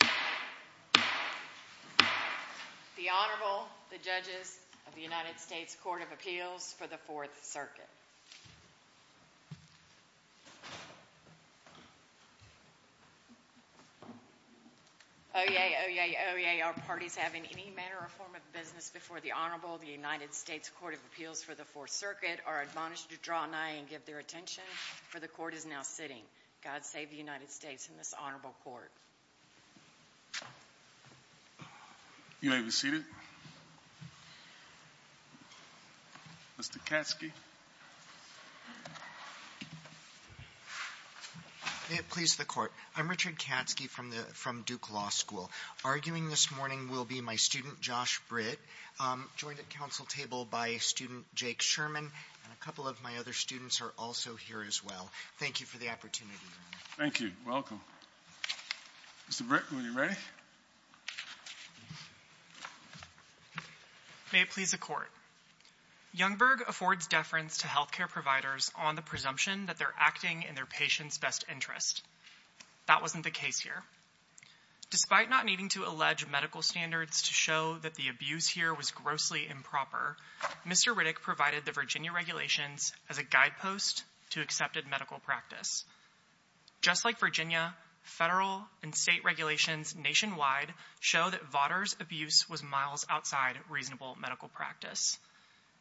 The Honorable, the Judges of the United States Court of Appeals for the Fourth Circuit. Oyez, oyez, oyez, are parties having any manner or form of business before the Honorable, the United States Court of Appeals for the Fourth Circuit, are admonished to draw nigh and give their attention, for the Court is now sitting. God save the United States and this Honorable Court. You may be seated. Mr. Katske. May it please the Court. I'm Richard Katske from Duke Law School. Arguing this morning will be my student, Josh Britt, joined at council table by student Jake Sherman, and a couple of my other students are also here as well. Thank you for the opportunity, Your Honor. Thank you. Welcome. Mr. Britt, when you're ready. May it please the Court. Youngberg affords deference to health care providers on the presumption that they're acting in their patient's best interest. That wasn't the case here. Despite not needing to allege medical standards to show that the abuse here was grossly improper, Mr. Riddick provided the Virginia regulations as a guidepost to accepted medical practice. Just like Virginia, federal and state regulations nationwide show that Vaughter's abuse was miles outside reasonable medical practice.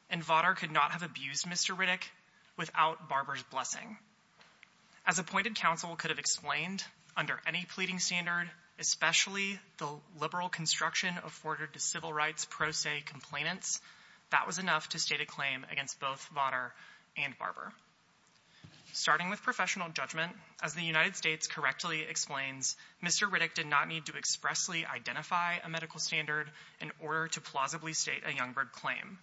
And Vaughter could not have abused Mr. Riddick without Barber's blessing. As appointed counsel could have explained, under any pleading standard, especially the liberal construction afforded to civil rights pro se complainants, that was enough to state a claim against both Vaughter and Barber. Starting with professional judgment, as the United States correctly explains, Mr. Riddick did not need to expressly identify a medical standard in order to plausibly state a Youngberg claim.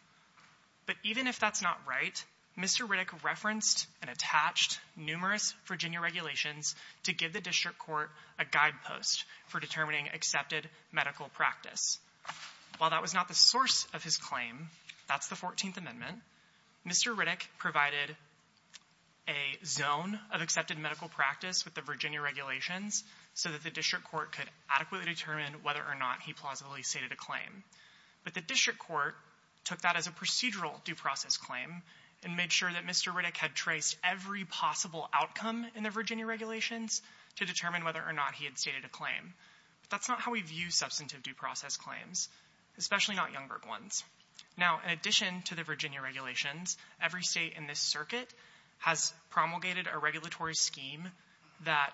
But even if that's not right, Mr. Riddick referenced and attached numerous Virginia regulations to give the district court a guidepost for determining accepted medical practice. While that was not the source of his claim, that's the 14th Amendment, Mr. Riddick provided a zone of accepted medical practice with the Virginia regulations so that the district court could adequately determine whether or not he plausibly stated a claim. But the district court took that as a procedural due process claim and made sure that Mr. Riddick had traced every possible outcome in the Virginia regulations to determine whether or not he had stated a claim. That's not how we view substantive due process claims, especially not Youngberg ones. Now, in addition to the Virginia regulations, every state in this circuit has promulgated a regulatory scheme that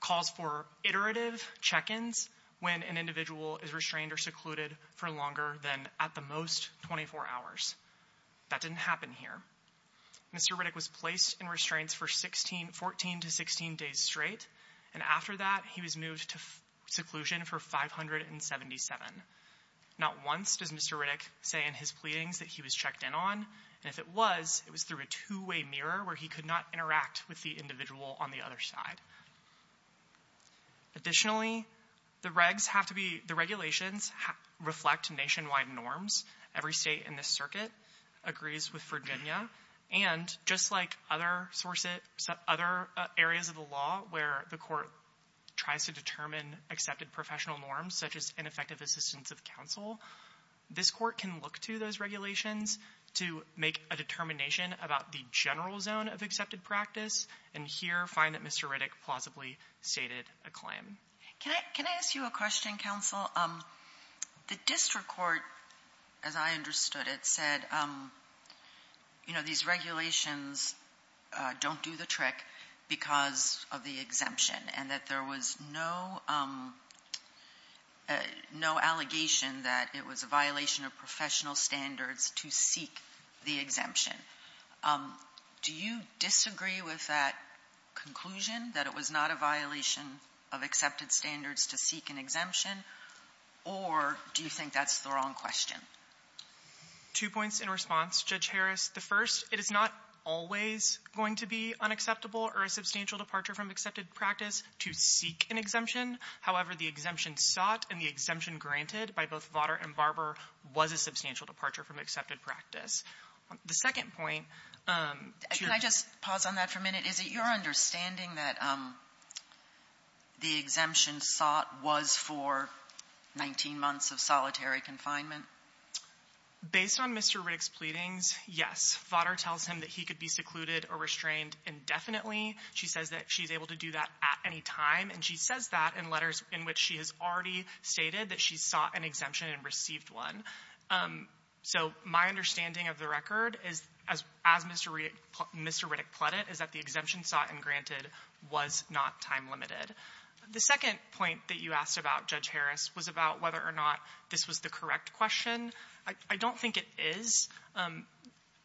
calls for iterative check-ins when an individual is restrained or secluded for longer than, at the most, 24 hours. That didn't happen here. Mr. Riddick was placed in restraints for 14 to 16 days straight, and after that, he was moved to seclusion for 577. Not once does Mr. Riddick say in his pleadings that he was checked in on, and if it was, it was through a two-way mirror where he could not interact with the individual on the other side. Additionally, the regs have to be — the regulations reflect nationwide norms. Every state in this circuit agrees with Virginia, and just like other areas of the law where the court tries to determine accepted professional norms, such as ineffective assistance of counsel, this court can look to those regulations to make a determination about the general zone of accepted practice, and here find that Mr. Riddick plausibly stated a claim. Can I ask you a question, counsel? The district court, as I understood it, said, you know, these regulations don't do the trick because of the exemption, and that there was no allegation that it was a violation of professional standards to seek the exemption. Do you disagree with that conclusion, that it was not a violation of accepted standards to seek an exemption, or do you think that's the wrong question? Two points in response, Judge Harris. The first, it is not always going to be unacceptable or a substantial departure from accepted practice to seek an exemption. However, the exemption sought and the exemption granted by both Votter and Barber was a substantial departure from accepted practice. The second point, Judge Harris. Can I just pause on that for a minute? Is it your understanding that the exemption sought was for 19 months of solitary confinement? Based on Mr. Riddick's pleadings, yes. Votter tells him that he could be secluded or restrained indefinitely. She says that she's able to do that at any time, and she says that in letters in which she has already stated that she sought an exemption and received one. So my understanding of the record, as Mr. Riddick put it, is that the exemption sought and granted was not time limited. The second point that you asked about, Judge Harris, was about whether or not this was the correct question. I don't think it is.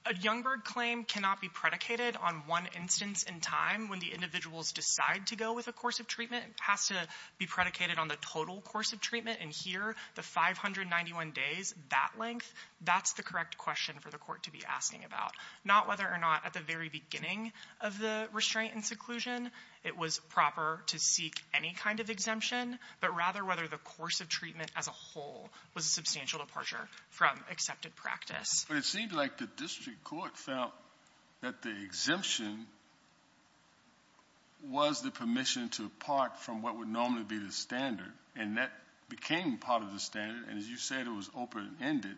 A Youngberg claim cannot be predicated on one instance in time when the individuals decide to go with a course of treatment. It has to be predicated on the total course of treatment. And here, the 591 days, that length, that's the correct question for the court to be asking about. Not whether or not at the very beginning of the restraint and seclusion it was proper to seek any kind of exemption, but rather whether the course of treatment as a whole was a substantial departure from accepted practice. But it seemed like the district court felt that the exemption was the permission to part from what would normally be the standard. And that became part of the standard. And as you said, it was open-ended.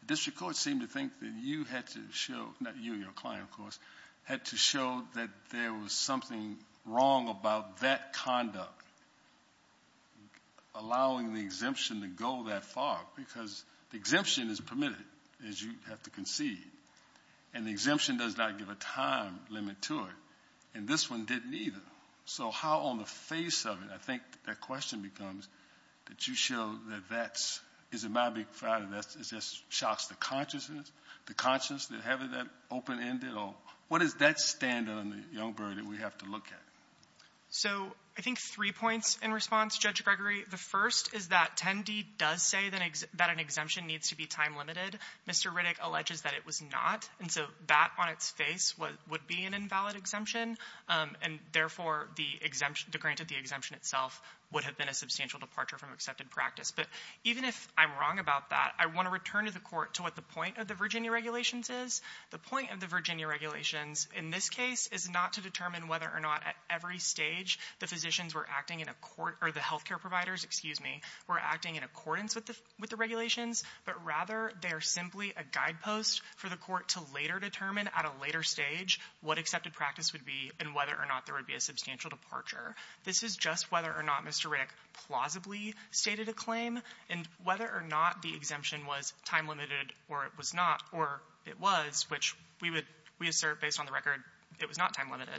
The district court seemed to think that you had to show, not you, your client, of course, had to show that there was something wrong about that conduct, allowing the exemption to go that far. Because the exemption is permitted, as you have to concede. And the exemption does not give a time limit to it. And this one didn't either. So how on the face of it, I think the question becomes, did you show that that is a matter of fact, that it just shocks the consciousness, the conscience, that having that open-ended? Or what does that stand on the young bird that we have to look at? So I think three points in response, Judge Gregory. The first is that 10D does say that an exemption needs to be time-limited. Mr. Riddick alleges that it was not. And so that on its face would be an invalid exemption. And therefore, the exemption, granted the exemption itself, would have been a substantial departure from accepted practice. But even if I'm wrong about that, I want to return to the court to what the point of the Virginia regulations is. The point of the Virginia regulations in this case is not to determine whether or not at every stage the physicians were acting in accordance, or the health care providers, excuse me, were acting in accordance with the regulations, but rather they are simply a guidepost for the court to later determine at a later stage what accepted practice would be and whether or not there would be a substantial departure. This is just whether or not Mr. Riddick plausibly stated a claim and whether or not the exemption was time-limited or it was not, or it was, which we assert based on the record it was not time-limited.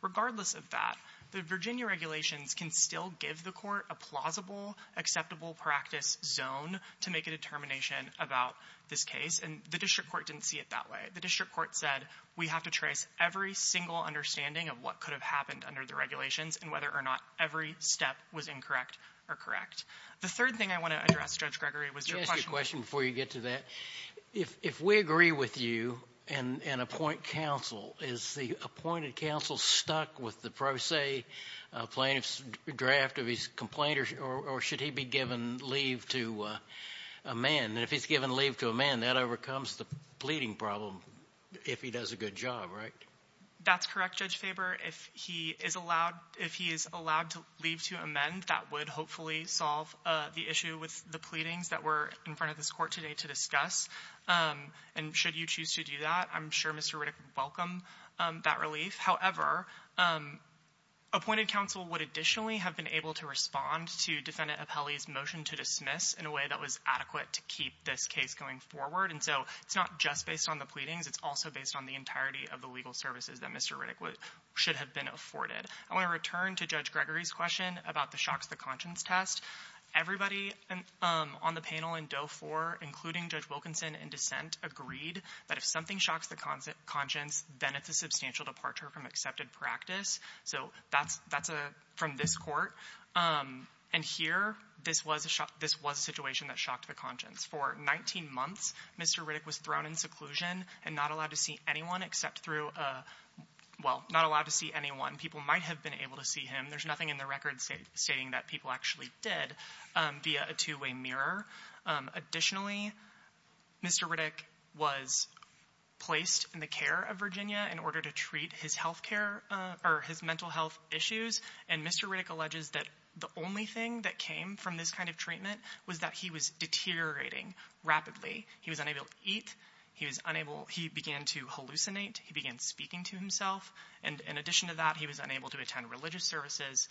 Regardless of that, the Virginia regulations can still give the court a plausible acceptable practice zone to make a determination about this case. And the district court didn't see it that way. The district court said we have to trace every single understanding of what could have happened under the regulations and whether or not every step was incorrect or correct. The third thing I want to address, Judge Gregory, was your question. Let me ask you a question before you get to that. If we agree with you and appoint counsel, is the appointed counsel stuck with the pro se plaintiff's draft of his complaint or should he be given leave to amend? And if he's given leave to amend, that overcomes the pleading problem if he does a good job, right? That's correct, Judge Faber. If he is allowed to leave to amend, that would hopefully solve the issue with the pleadings that we're in front of this court today to discuss. And should you choose to do that, I'm sure Mr. Riddick would welcome that relief. However, appointed counsel would additionally have been able to respond to Defendant Apelli's motion to dismiss in a way that was adequate to keep this case going forward. And so it's not just based on the pleadings. It's also based on the entirety of the legal services that Mr. Riddick should have been afforded. I want to return to Judge Gregory's question about the shocks to conscience test. Everybody on the panel in Doe 4, including Judge Wilkinson in dissent, agreed that if something shocks the conscience, then it's a substantial departure from accepted practice. So that's from this court. And here, this was a situation that shocked the conscience. For 19 months, Mr. Riddick was thrown in seclusion and not allowed to see anyone except through a – well, not allowed to see anyone. People might have been able to see him. There's nothing in the record stating that people actually did via a two-way mirror. Additionally, Mr. Riddick was placed in the care of Virginia in order to treat his health care – or his mental health issues. And Mr. Riddick alleges that the only thing that came from this kind of treatment was that he was deteriorating rapidly. He was unable to eat. He was unable – he began to hallucinate. He began speaking to himself. And in addition to that, he was unable to attend religious services.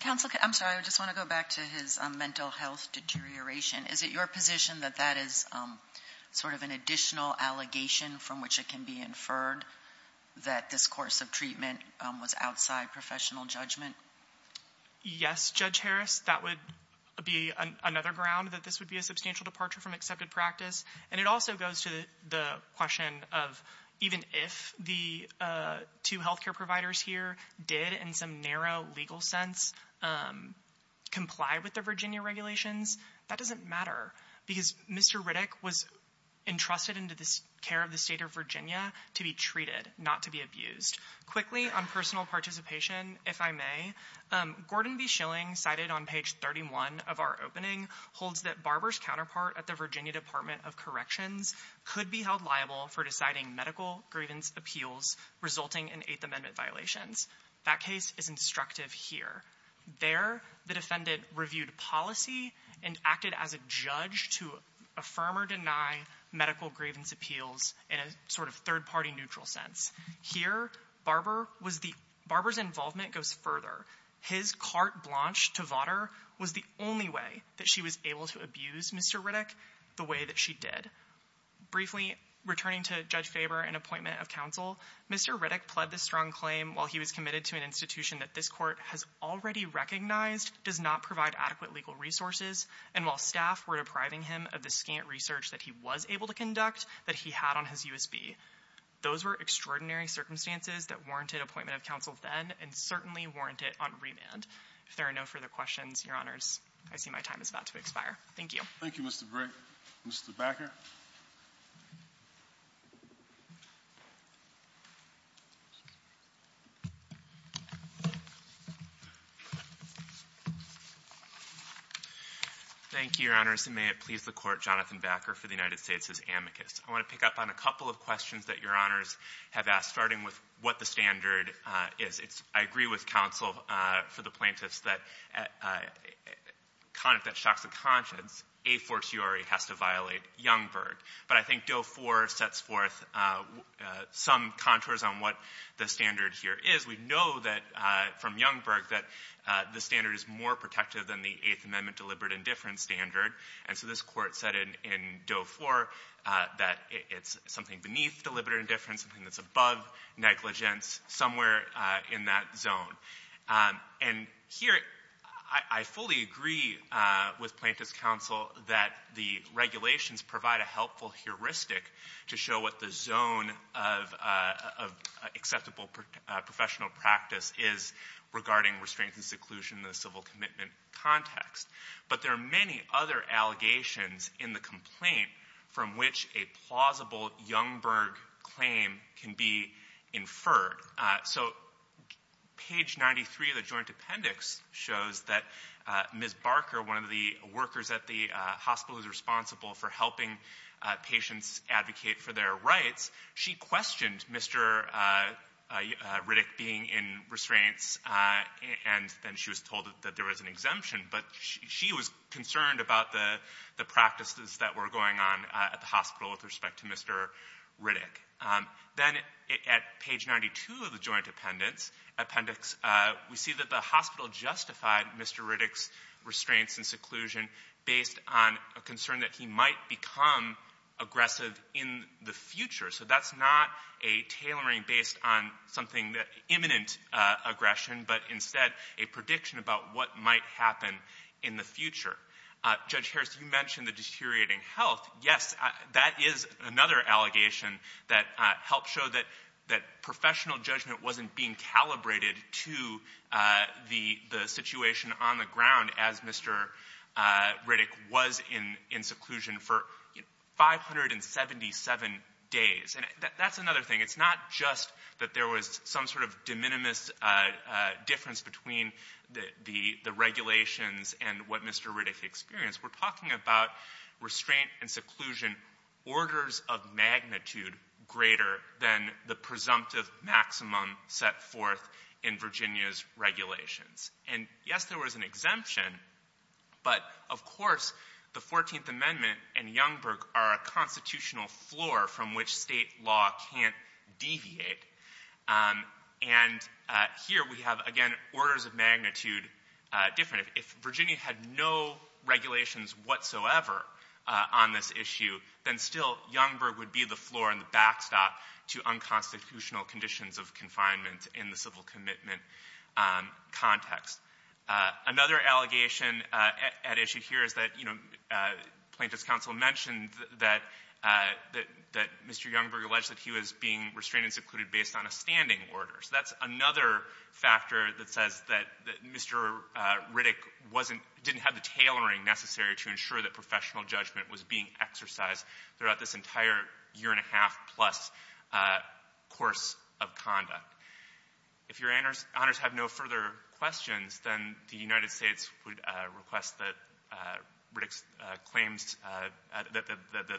Counsel, I'm sorry. I just want to go back to his mental health deterioration. Is it your position that that is sort of an additional allegation from which it can be inferred that this course of treatment was outside professional judgment? Yes, Judge Harris, that would be another ground that this would be a substantial departure from accepted practice. And it also goes to the question of even if the two health care providers here did, in some narrow legal sense, comply with the Virginia regulations, that doesn't matter because Mr. Riddick was entrusted into the care of the state of Virginia to be treated, not to be abused. Quickly, on personal participation, if I may, Gordon B. Schilling, cited on page 31 of our opening, holds that Barber's counterpart at the Virginia Department of Corrections could be held liable for deciding medical grievance appeals resulting in Eighth Amendment violations. That case is instructive here. There, the defendant reviewed policy and acted as a judge to affirm or deny medical grievance appeals in a sort of third-party neutral sense. Here, Barber's involvement goes further. His carte blanche to Votter was the only way that she was able to abuse Mr. Riddick the way that she did. Briefly, returning to Judge Faber and appointment of counsel, Mr. Riddick pled this strong claim while he was committed to an institution that this court has already recognized does not provide adequate legal resources and while staff were depriving him of the scant research that he was able to conduct that he had on his USB. Those were extraordinary circumstances that warranted appointment of counsel then and certainly warrant it on remand. If there are no further questions, Your Honors, I see my time is about to expire. Thank you. Thank you, Mr. Brigg. Mr. Backer. Thank you, Your Honors, and may it please the Court, Jonathan Backer for the United States' amicus. I want to pick up on a couple of questions that Your Honors have asked, starting with what the standard is. I agree with counsel for the plaintiffs that if that shocks the conscience, a fortiori has to violate Youngberg. But I think Doe 4 sets forth some contours on what the standard here is. We know that from Youngberg that the standard is more protective than the Eighth Amendment deliberate indifference standard. And so this Court said in Doe 4 that it's something beneath deliberate indifference, something that's above negligence, somewhere in that zone. And here I fully agree with plaintiff's counsel that the regulations provide a helpful heuristic to show what the zone of acceptable professional practice is regarding restraint and seclusion in the civil commitment context. But there are many other allegations in the complaint from which a plausible Youngberg claim can be inferred. So page 93 of the joint appendix shows that Ms. Barker, one of the workers at the hospital who's responsible for helping patients advocate for their rights, she questioned Mr. Riddick being in restraints, and then she was told that there was an exemption. But she was concerned about the practices that were going on at the hospital with respect to Mr. Riddick. Then at page 92 of the joint appendix, we see that the hospital justified Mr. Riddick's restraints and seclusion based on a concern that he might become aggressive in the future. So that's not a tailoring based on something that imminent aggression, but instead a prediction about what might happen in the future. Judge Harris, you mentioned the deteriorating health. Yes, that is another allegation that helped show that professional judgment wasn't being calibrated to the situation on the ground as Mr. Riddick was in seclusion for 577 days. And that's another thing. It's not just that there was some sort of de minimis difference between the regulations and what Mr. Riddick experienced. We're talking about restraint and seclusion, orders of magnitude greater than the presumptive maximum set forth in Virginia's regulations. And yes, there was an exemption, but of course the 14th Amendment and Youngberg are a constitutional floor from which State law can't deviate. And here we have, again, orders of magnitude different. If Virginia had no regulations whatsoever on this issue, then still Youngberg would be the floor and the backstop to unconstitutional conditions of confinement in the civil commitment context. Another allegation at issue here is that, you know, that Mr. Youngberg alleged that he was being restrained and secluded based on a standing order. So that's another factor that says that Mr. Riddick wasn't — didn't have the tailoring necessary to ensure that professional judgment was being exercised throughout this entire year-and-a-half-plus course of conduct. If Your Honors have no further questions, then the United States would request that Riddick's claims — that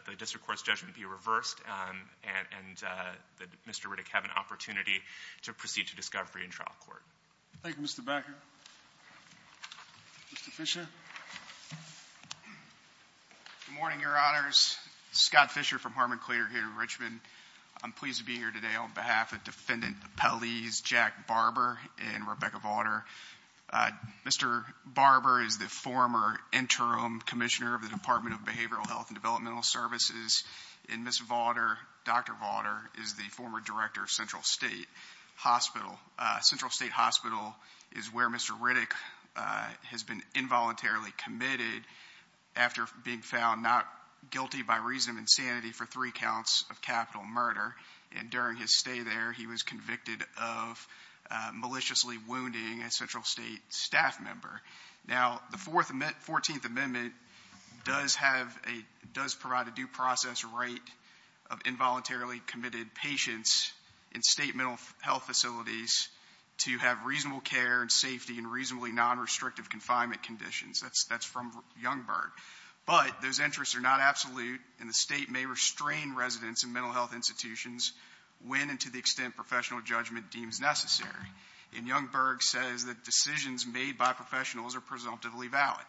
the district court's judgment be reversed and that Mr. Riddick have an opportunity to proceed to discovery in trial court. Thank you, Mr. Becker. Mr. Fisher. Good morning, Your Honors. Scott Fisher from Harmon Clear here in Richmond. I'm pleased to be here today on behalf of Defendant Appellees Jack Barber and Rebecca Vaughter. Mr. Barber is the former interim commissioner of the Department of Behavioral Health and Developmental Services, and Ms. Vaughter, Dr. Vaughter, is the former director of Central State Hospital. Central State Hospital is where Mr. Riddick has been involuntarily committed after being found not guilty by reason of insanity for three counts of capital murder. And during his stay there, he was convicted of maliciously wounding a Central State staff member. Now, the 14th Amendment does have a — does provide a due process right of involuntarily committed patients in state mental health facilities to have reasonable care and safety in reasonably nonrestrictive confinement conditions. That's from Youngberg. But those interests are not absolute, and the state may restrain residents in mental health institutions when and to the extent professional judgment deems necessary. And Youngberg says that decisions made by professionals are presumptively valid.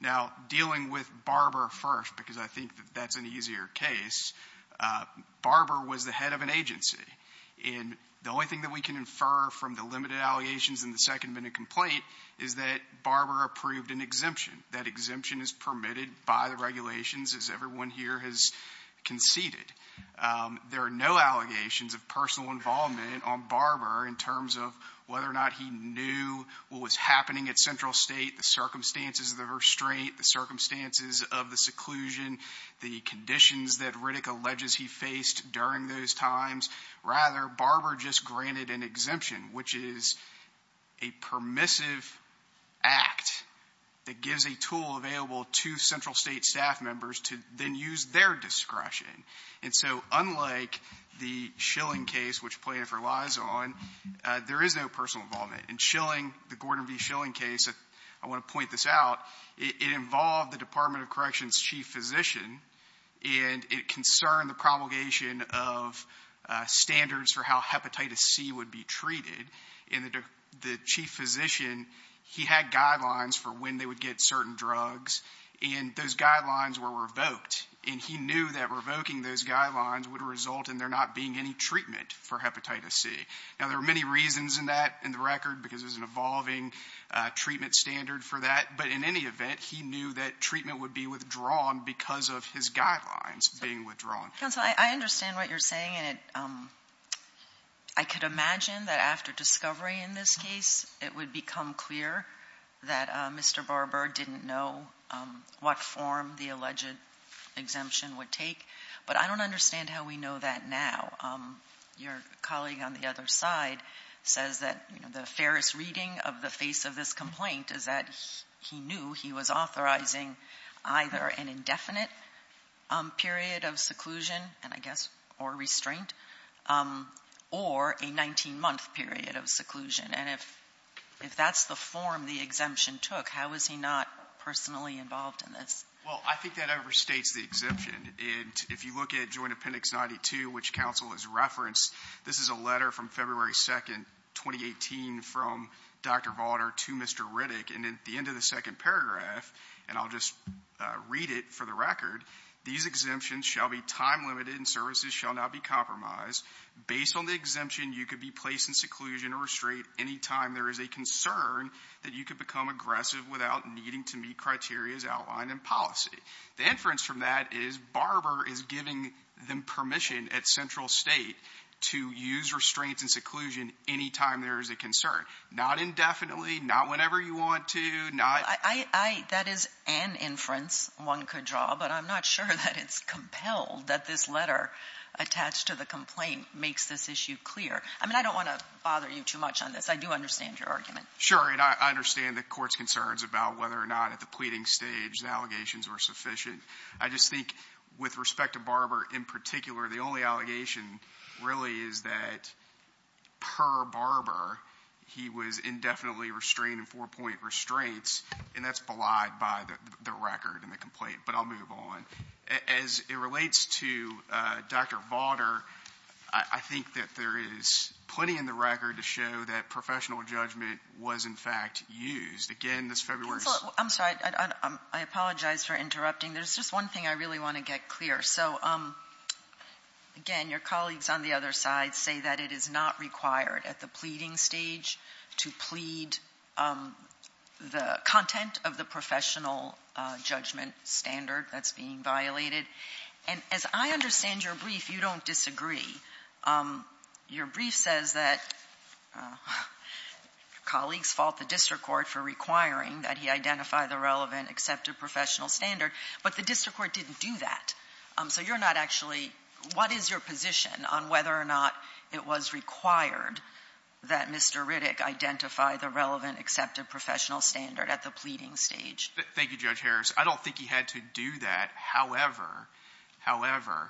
Now, dealing with Barber first, because I think that that's an easier case, Barber was the head of an agency. And the only thing that we can infer from the limited allegations in the second minute complaint is that Barber approved an exemption. That exemption is permitted by the regulations, as everyone here has conceded. There are no allegations of personal involvement on Barber in terms of whether or not he knew what was happening at Central State, the circumstances of the restraint, the circumstances of the seclusion, the conditions that Riddick alleges he faced during those times. Rather, Barber just granted an exemption, which is a permissive act that gives a tool available to Central State staff members to then use their discretion. And so unlike the Schilling case, which plaintiff relies on, there is no personal involvement. In Schilling, the Gordon V. Schilling case, I want to point this out, it involved the standards for how hepatitis C would be treated. And the chief physician, he had guidelines for when they would get certain drugs. And those guidelines were revoked. And he knew that revoking those guidelines would result in there not being any treatment for hepatitis C. Now, there were many reasons in that in the record, because there's an evolving treatment standard for that. But in any event, he knew that treatment would be withdrawn because of his guidelines being withdrawn. Counsel, I understand what you're saying. And I could imagine that after discovery in this case, it would become clear that Mr. Barber didn't know what form the alleged exemption would take. But I don't understand how we know that now. Your colleague on the other side says that the fairest reading of the face of this complaint is that he knew he was authorizing either an indefinite period of seclusion and, I guess, or restraint, or a 19-month period of seclusion. And if that's the form the exemption took, how is he not personally involved in this? Well, I think that overstates the exemption. And if you look at Joint Appendix 92, which counsel has referenced, this is a letter from February 2nd, 2018, from Dr. Vaughter to Mr. Riddick. And at the end of the second paragraph, and I'll just read it for the record, these exemptions shall be time-limited and services shall not be compromised. Based on the exemption, you could be placed in seclusion or restraint any time there is a concern that you could become aggressive without needing to meet criteria outlined in policy. The inference from that is Barber is giving them permission at Central State to use restraints and seclusion any time there is a concern, not indefinitely, not whenever you want to. That is an inference one could draw, but I'm not sure that it's compelled that this letter attached to the complaint makes this issue clear. I mean, I don't want to bother you too much on this. I do understand your argument. Sure, and I understand the Court's concerns about whether or not at the pleading stage the allegations were sufficient. I just think with respect to Barber in particular, the only allegation really is that per Barber, he was indefinitely restrained in four-point restraints, and that's belied by the record in the complaint. But I'll move on. As it relates to Dr. Vaughter, I think that there is plenty in the record to show that professional judgment was, in fact, used. Again, this February's — I'm sorry. I apologize for interrupting. There's just one thing I really want to get clear. So, again, your colleagues on the other side say that it is not required at the pleading stage to plead the content of the professional judgment standard that's being violated. And as I understand your brief, you don't disagree. Your brief says that colleagues fault the district court for requiring that he identify the relevant accepted professional standard, but the district court didn't do that. So you're not actually — what is your position on whether or not it was required that Mr. Riddick identify the relevant accepted professional standard at the pleading stage? Thank you, Judge Harris. I don't think he had to do that. However, however,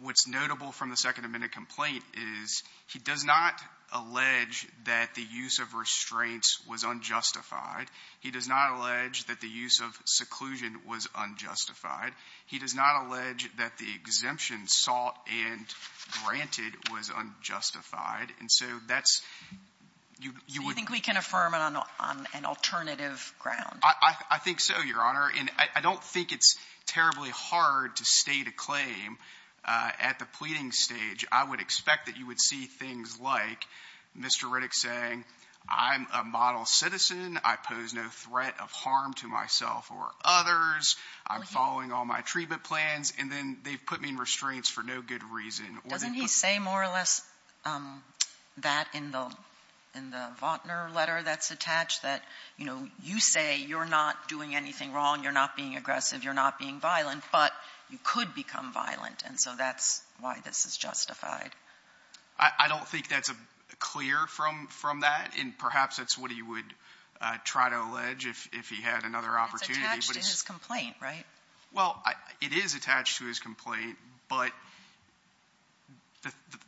what's notable from the Second Amendment complaint is he does not allege that the use of restraints was unjustified. He does not allege that the use of seclusion was unjustified. He does not allege that the exemption sought and granted was unjustified. And so that's — So you think we can affirm it on an alternative ground? I think so, Your Honor. And I don't think it's terribly hard to state a claim at the pleading stage. I would expect that you would see things like Mr. Riddick saying, I'm a model citizen, I pose no threat of harm to myself or others, I'm following all my treatment plans, and then they've put me in restraints for no good reason. Doesn't he say more or less that in the — in the Vaughtner letter that's attached, that, you know, you say you're not doing anything wrong, you're not being aggressive, you're not being violent, but you could become violent, and so that's why this is justified? I don't think that's clear from that, and perhaps that's what he would try to allege if he had another opportunity. It's attached to his complaint, right? Well, it is attached to his complaint, but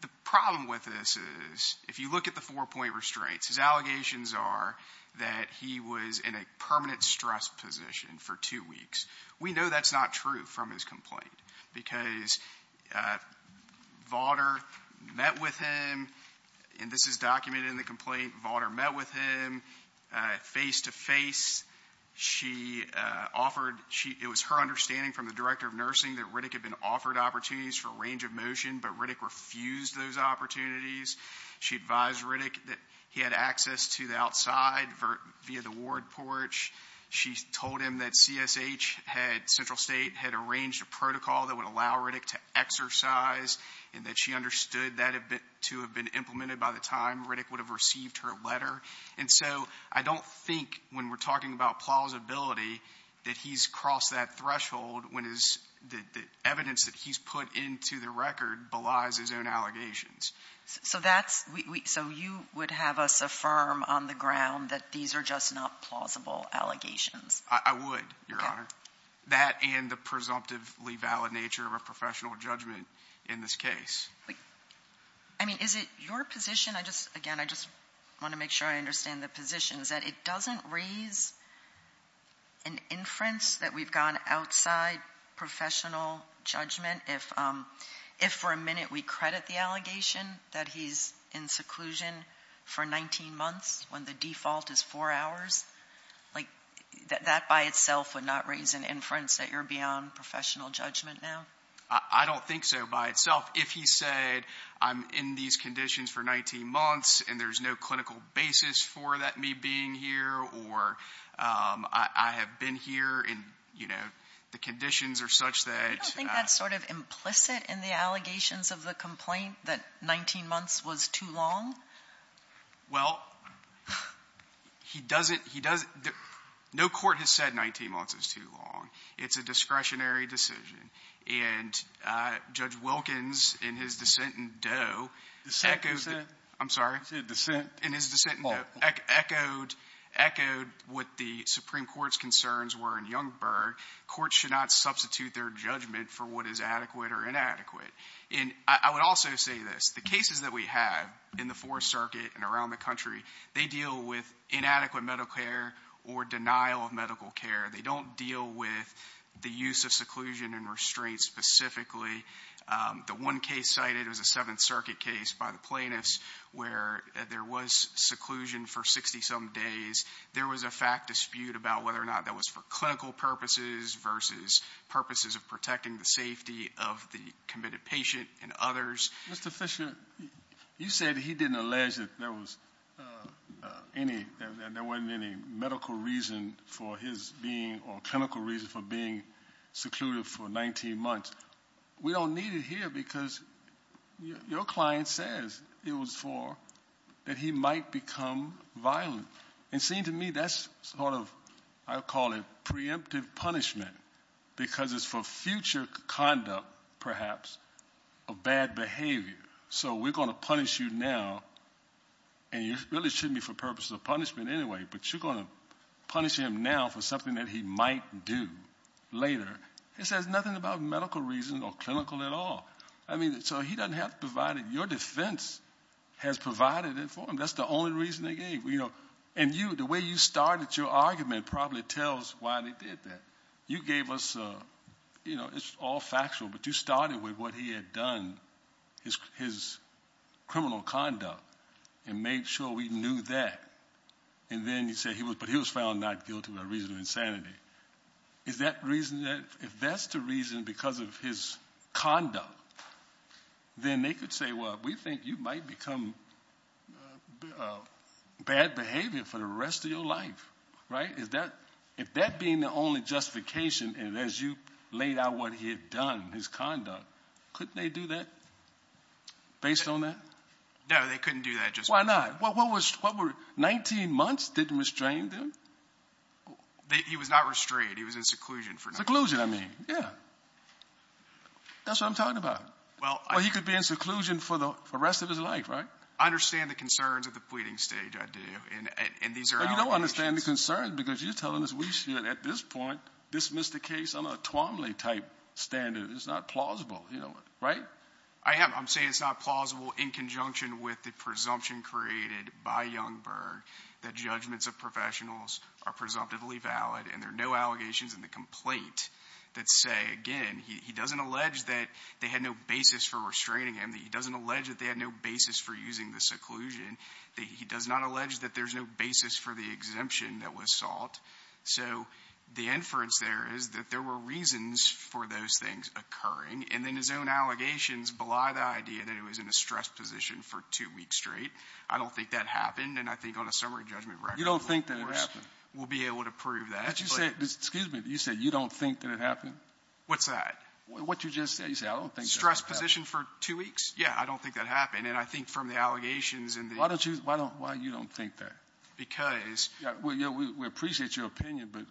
the problem with this is, if you look at the four-point restraints, his allegations are that he was in a permanent stress position for two weeks. We know that's not true from his complaint, because Vaughtner met with him, and this is documented in the complaint, Vaughtner met with him face-to-face. She offered — it was her understanding from the director of nursing that Riddick had been offered opportunities for a range of motion, but Riddick refused those opportunities. She advised Riddick that he had access to the outside via the ward porch. She told him that CSH had — Central State had arranged a protocol that would allow Riddick to exercise, and that she understood that to have been implemented by the time Riddick would have received her letter. And so I don't think, when we're talking about plausibility, that he's crossed that threshold when the evidence that he's put into the record belies his own allegations. So that's — so you would have us affirm on the ground that these are just not plausible allegations? I would, Your Honor. That and the presumptively valid nature of a professional judgment in this case. I mean, is it your position — again, I just want to make sure I understand the position — is that it doesn't raise an inference that we've gone outside professional judgment if, for a minute, we credit the allegation that he's in that by itself would not raise an inference that you're beyond professional judgment now? I don't think so by itself. If he said, I'm in these conditions for 19 months, and there's no clinical basis for that me being here, or I have been here, and, you know, the conditions are such that — You don't think that's sort of implicit in the allegations of the complaint, that 19 months was too long? Well, he doesn't — no court has said 19 months is too long. It's a discretionary decision. And Judge Wilkins, in his dissent in Doe — Dissent? I'm sorry? He said dissent. In his dissent in Doe, echoed what the Supreme Court's concerns were in Youngberg. Courts should not substitute their judgment for what is adequate or inadequate. And I would also say this. The cases that we have in the Fourth Circuit and around the country, they deal with inadequate medical care or denial of medical care. They don't deal with the use of seclusion and restraint specifically. The one case cited was a Seventh Circuit case by the plaintiffs where there was seclusion for 60-some days. There was a fact dispute about whether or not that was for clinical purposes versus purposes of protecting the safety of the committed patient and others. Mr. Fisher, you said he didn't allege that there was any — that there wasn't any medical reason for his being — or clinical reason for being secluded for 19 months. We don't need it here because your client says it was for — that he might become violent. And it seems to me that's sort of — I would call it preemptive punishment because it's for future conduct, perhaps, of bad behavior. So we're going to punish you now, and you really shouldn't be for purposes of punishment anyway, but you're going to punish him now for something that he might do later. It says nothing about medical reason or clinical at all. I mean, so he doesn't have to provide it. Your defense has provided it for him. That's the only reason they gave. And you, the way you started your argument probably tells why they did that. You gave us — it's all factual, but you started with what he had done, his criminal conduct, and made sure we knew that. And then you say, but he was found not guilty by reason of insanity. Is that reason that — if that's the reason because of his conduct, then they could say, well, we think you might become bad behavior for the rest of your life, right? If that being the only justification, and as you laid out what he had done, his conduct, couldn't they do that based on that? No, they couldn't do that just because — Why not? What were — 19 months didn't restrain them? He was not restrained. He was in seclusion for 19 months. Seclusion, I mean, yeah. That's what I'm talking about. Well, I — Or he could be in seclusion for the rest of his life, right? I understand the concerns at the pleading stage, I do. And these are allegations. But you don't understand the concerns because you're telling us we should, at this point, dismiss the case under a Twomley-type standard. It's not plausible, you know, right? I am. I'm saying it's not plausible in conjunction with the presumption created by Youngberg that judgments of professionals are presumptively valid, and there are no allegations in the complaint that say, again, he doesn't allege that they had no basis for restraining him, that he doesn't allege that they had no basis for using the seclusion, that he does not allege that there's no basis for the exemption that was sought. So the inference there is that there were reasons for those things occurring, and then his own allegations belie the idea that he was in a stressed position for two weeks straight. I don't think that happened. And I think on a summary judgment record, of course — You don't think that happened? We'll be able to prove that. But you said — excuse me. You said you don't think that it happened? What's that? What you just said. You said, I don't think that happened. Stressed position for two weeks? Yeah, I don't think that happened. And I think from the allegations and the — Why don't you — why don't — why you don't think that? Because — Yeah, we appreciate your opinion, but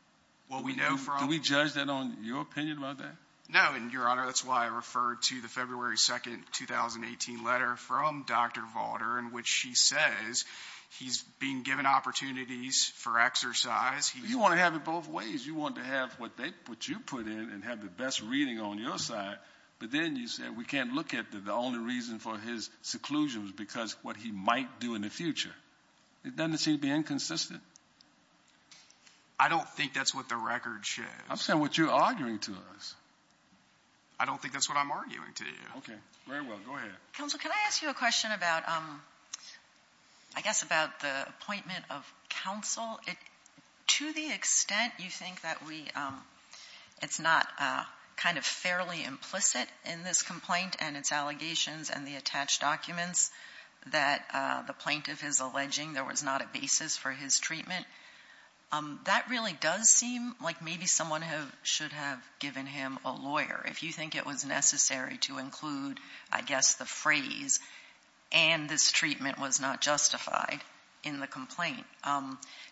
— Well, we know from — Do we judge that on your opinion about that? No, and, Your Honor, that's why I referred to the February 2, 2018, letter from Dr. Valder in which she says he's being given opportunities for exercise. You want to have it both ways. You want to have what you put in and have the best reading on your side. But then you said we can't look at the only reason for his seclusion was because what he might do in the future. It doesn't seem to be inconsistent. I don't think that's what the record shows. I'm saying what you're arguing to us. I don't think that's what I'm arguing to you. Okay. Very well. Go ahead. Counsel, can I ask you a question about, I guess, about the appointment of counsel? To the extent you think that we — it's not kind of fairly implicit in this complaint and its allegations and the attached documents that the plaintiff is alleging there was not a basis for his treatment. That really does seem like maybe someone should have given him a lawyer if you think it was necessary to include, I guess, the phrase, and this treatment was not justified in the complaint.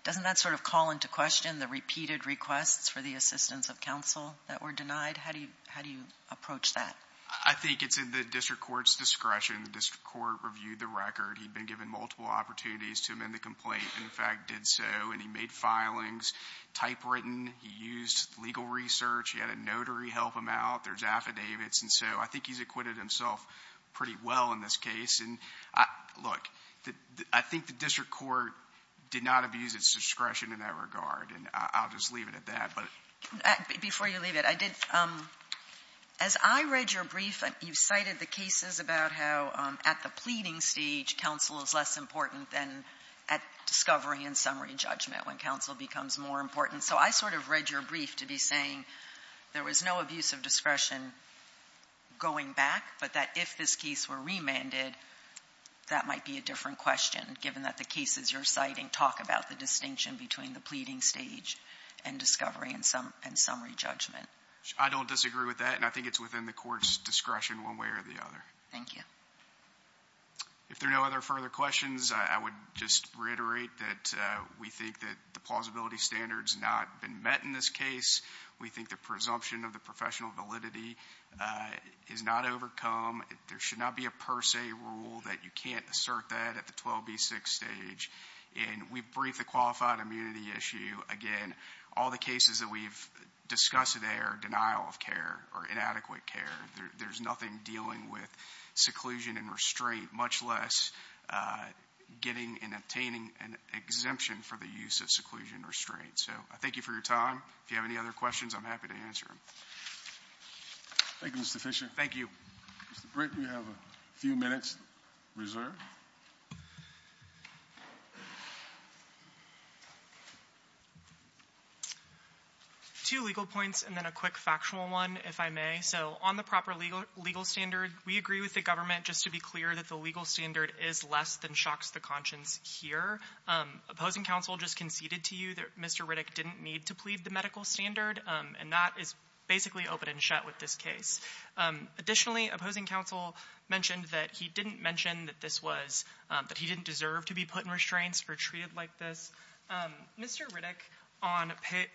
Doesn't that sort of call into question the repeated requests for the assistance of counsel that were denied? How do you approach that? I think it's in the district court's discretion. The district court reviewed the record. He'd been given multiple opportunities to amend the complaint and, in fact, did so. And he made filings, typewritten. He used legal research. He had a notary help him out. There's affidavits. And so I think he's acquitted himself pretty well in this case. Look, I think the district court did not abuse its discretion in that regard, and I'll just leave it at that. Before you leave it, I did — as I read your brief, you cited the cases about how at the pleading stage counsel is less important than at discovery and summary judgment when counsel becomes more important. So I sort of read your brief to be saying there was no abuse of discretion going back, but that if this case were remanded, that might be a different question, given that the cases you're citing talk about the distinction between the pleading stage and discovery and summary judgment. I don't disagree with that, and I think it's within the court's discretion one way or the other. Thank you. If there are no other further questions, I would just reiterate that we think that the plausibility standard's not been met in this case. We think the presumption of the professional validity is not overcome. There should not be a per se rule that you can't assert that at the 12B6 stage. And we briefed the qualified immunity issue. Again, all the cases that we've discussed today are denial of care or inadequate care. There's nothing dealing with seclusion and restraint, much less getting and obtaining an exemption for the use of seclusion and restraint. So I thank you for your time. If you have any other questions, I'm happy to answer them. Thank you, Mr. Fisher. Thank you. Mr. Britton, you have a few minutes reserved. Two legal points and then a quick factual one, if I may. So on the proper legal standard, we agree with the government just to be clear that the legal standard is less than shocks the conscience here. Opposing counsel just conceded to you that Mr. Riddick didn't need to plead the medical standard, and that is basically open and shut with this case. Additionally, opposing counsel mentioned that he didn't mention that this was — that he didn't deserve to be put in restraints or treated like this. Mr. Riddick, on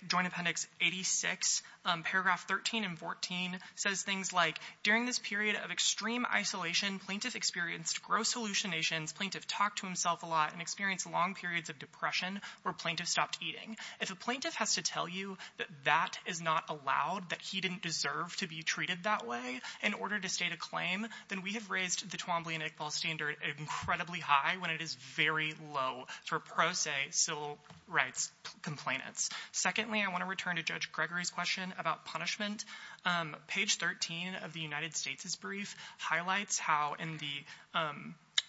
Joint Appendix 86, paragraph 13 and 14, says things like, During this period of extreme isolation, plaintiff experienced gross hallucinations, plaintiff talked to himself a lot, and experienced long periods of depression where plaintiff stopped eating. If a plaintiff has to tell you that that is not allowed, that he didn't deserve to be treated that way in order to state a claim, then we have raised the Twombly and Iqbal standard incredibly high when it is very low for pro se civil rights complainants. Secondly, I want to return to Judge Gregory's question about punishment. Page 13 of the United States' brief highlights how in the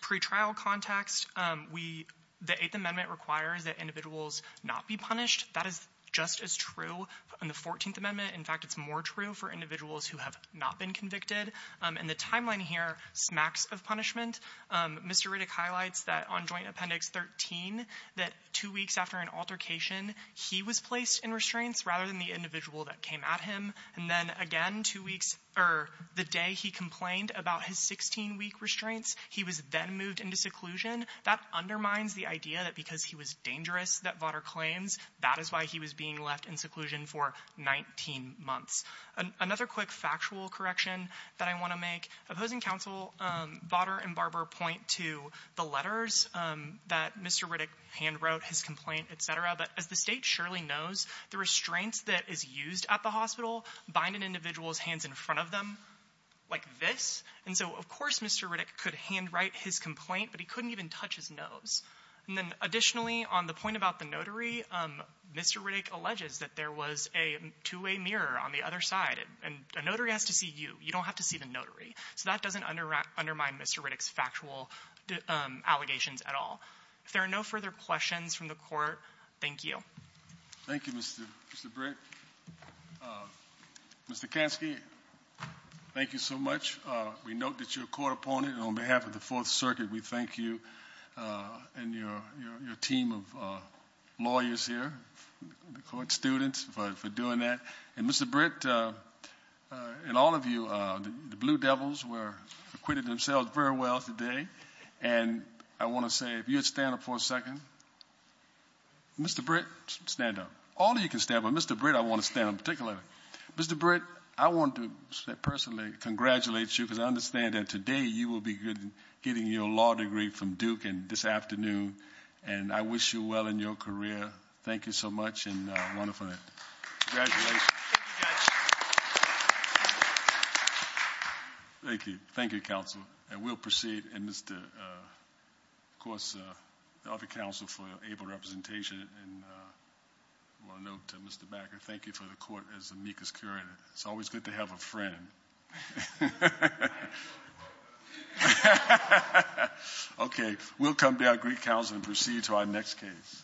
pretrial context, we — the Eighth Amendment requires that individuals not be punished. That is just as true in the Fourteenth Amendment. In fact, it's more true for individuals who have not been convicted. And the timeline here smacks of punishment. Mr. Riddick highlights that on Joint Appendix 13, that two weeks after an altercation, he was placed in restraints rather than the individual that came at him. And then again, two weeks — or the day he complained about his 16-week restraints, he was then moved into seclusion. That undermines the idea that because he was dangerous, that Votter claims, that is why he was being left in seclusion for 19 months. Another quick factual correction that I want to make, opposing counsel Votter and Barber point to the letters that Mr. Riddick handwrote, his complaint, et cetera. But as the State surely knows, the restraints that is used at the hospital bind an individual's hands in front of them like this. And so, of course, Mr. Riddick could handwrite his complaint, but he couldn't even touch his nose. And then additionally, on the point about the notary, Mr. Riddick alleges that there was a two-way mirror on the other side. And a notary has to see you. You don't have to see the notary. So that doesn't undermine Mr. Riddick's factual allegations at all. If there are no further questions from the Court, thank you. Thank you, Mr. Britt. Mr. Kansky, thank you so much. We note that you're a court opponent. And on behalf of the Fourth Circuit, we thank you and your team of lawyers here, the court students, for doing that. And, Mr. Britt, and all of you, the Blue Devils acquitted themselves very well today. And I want to say, if you would stand up for a second. Mr. Britt, stand up. All of you can stand, but Mr. Britt, I want to stand up particularly. Mr. Britt, I want to personally congratulate you, because I understand that today you will be getting your law degree from Duke this afternoon, and I wish you well in your career. Thank you so much, and wonderful. Congratulations. Thank you, Judge. Thank you. Thank you, Counsel. And we'll proceed. And, of course, the other counsel for able representation, and I want to note to Mr. Bakker, thank you for the court as amicus curia. It's always good to have a friend. Okay, we'll come to our Greek counsel and proceed to our next case.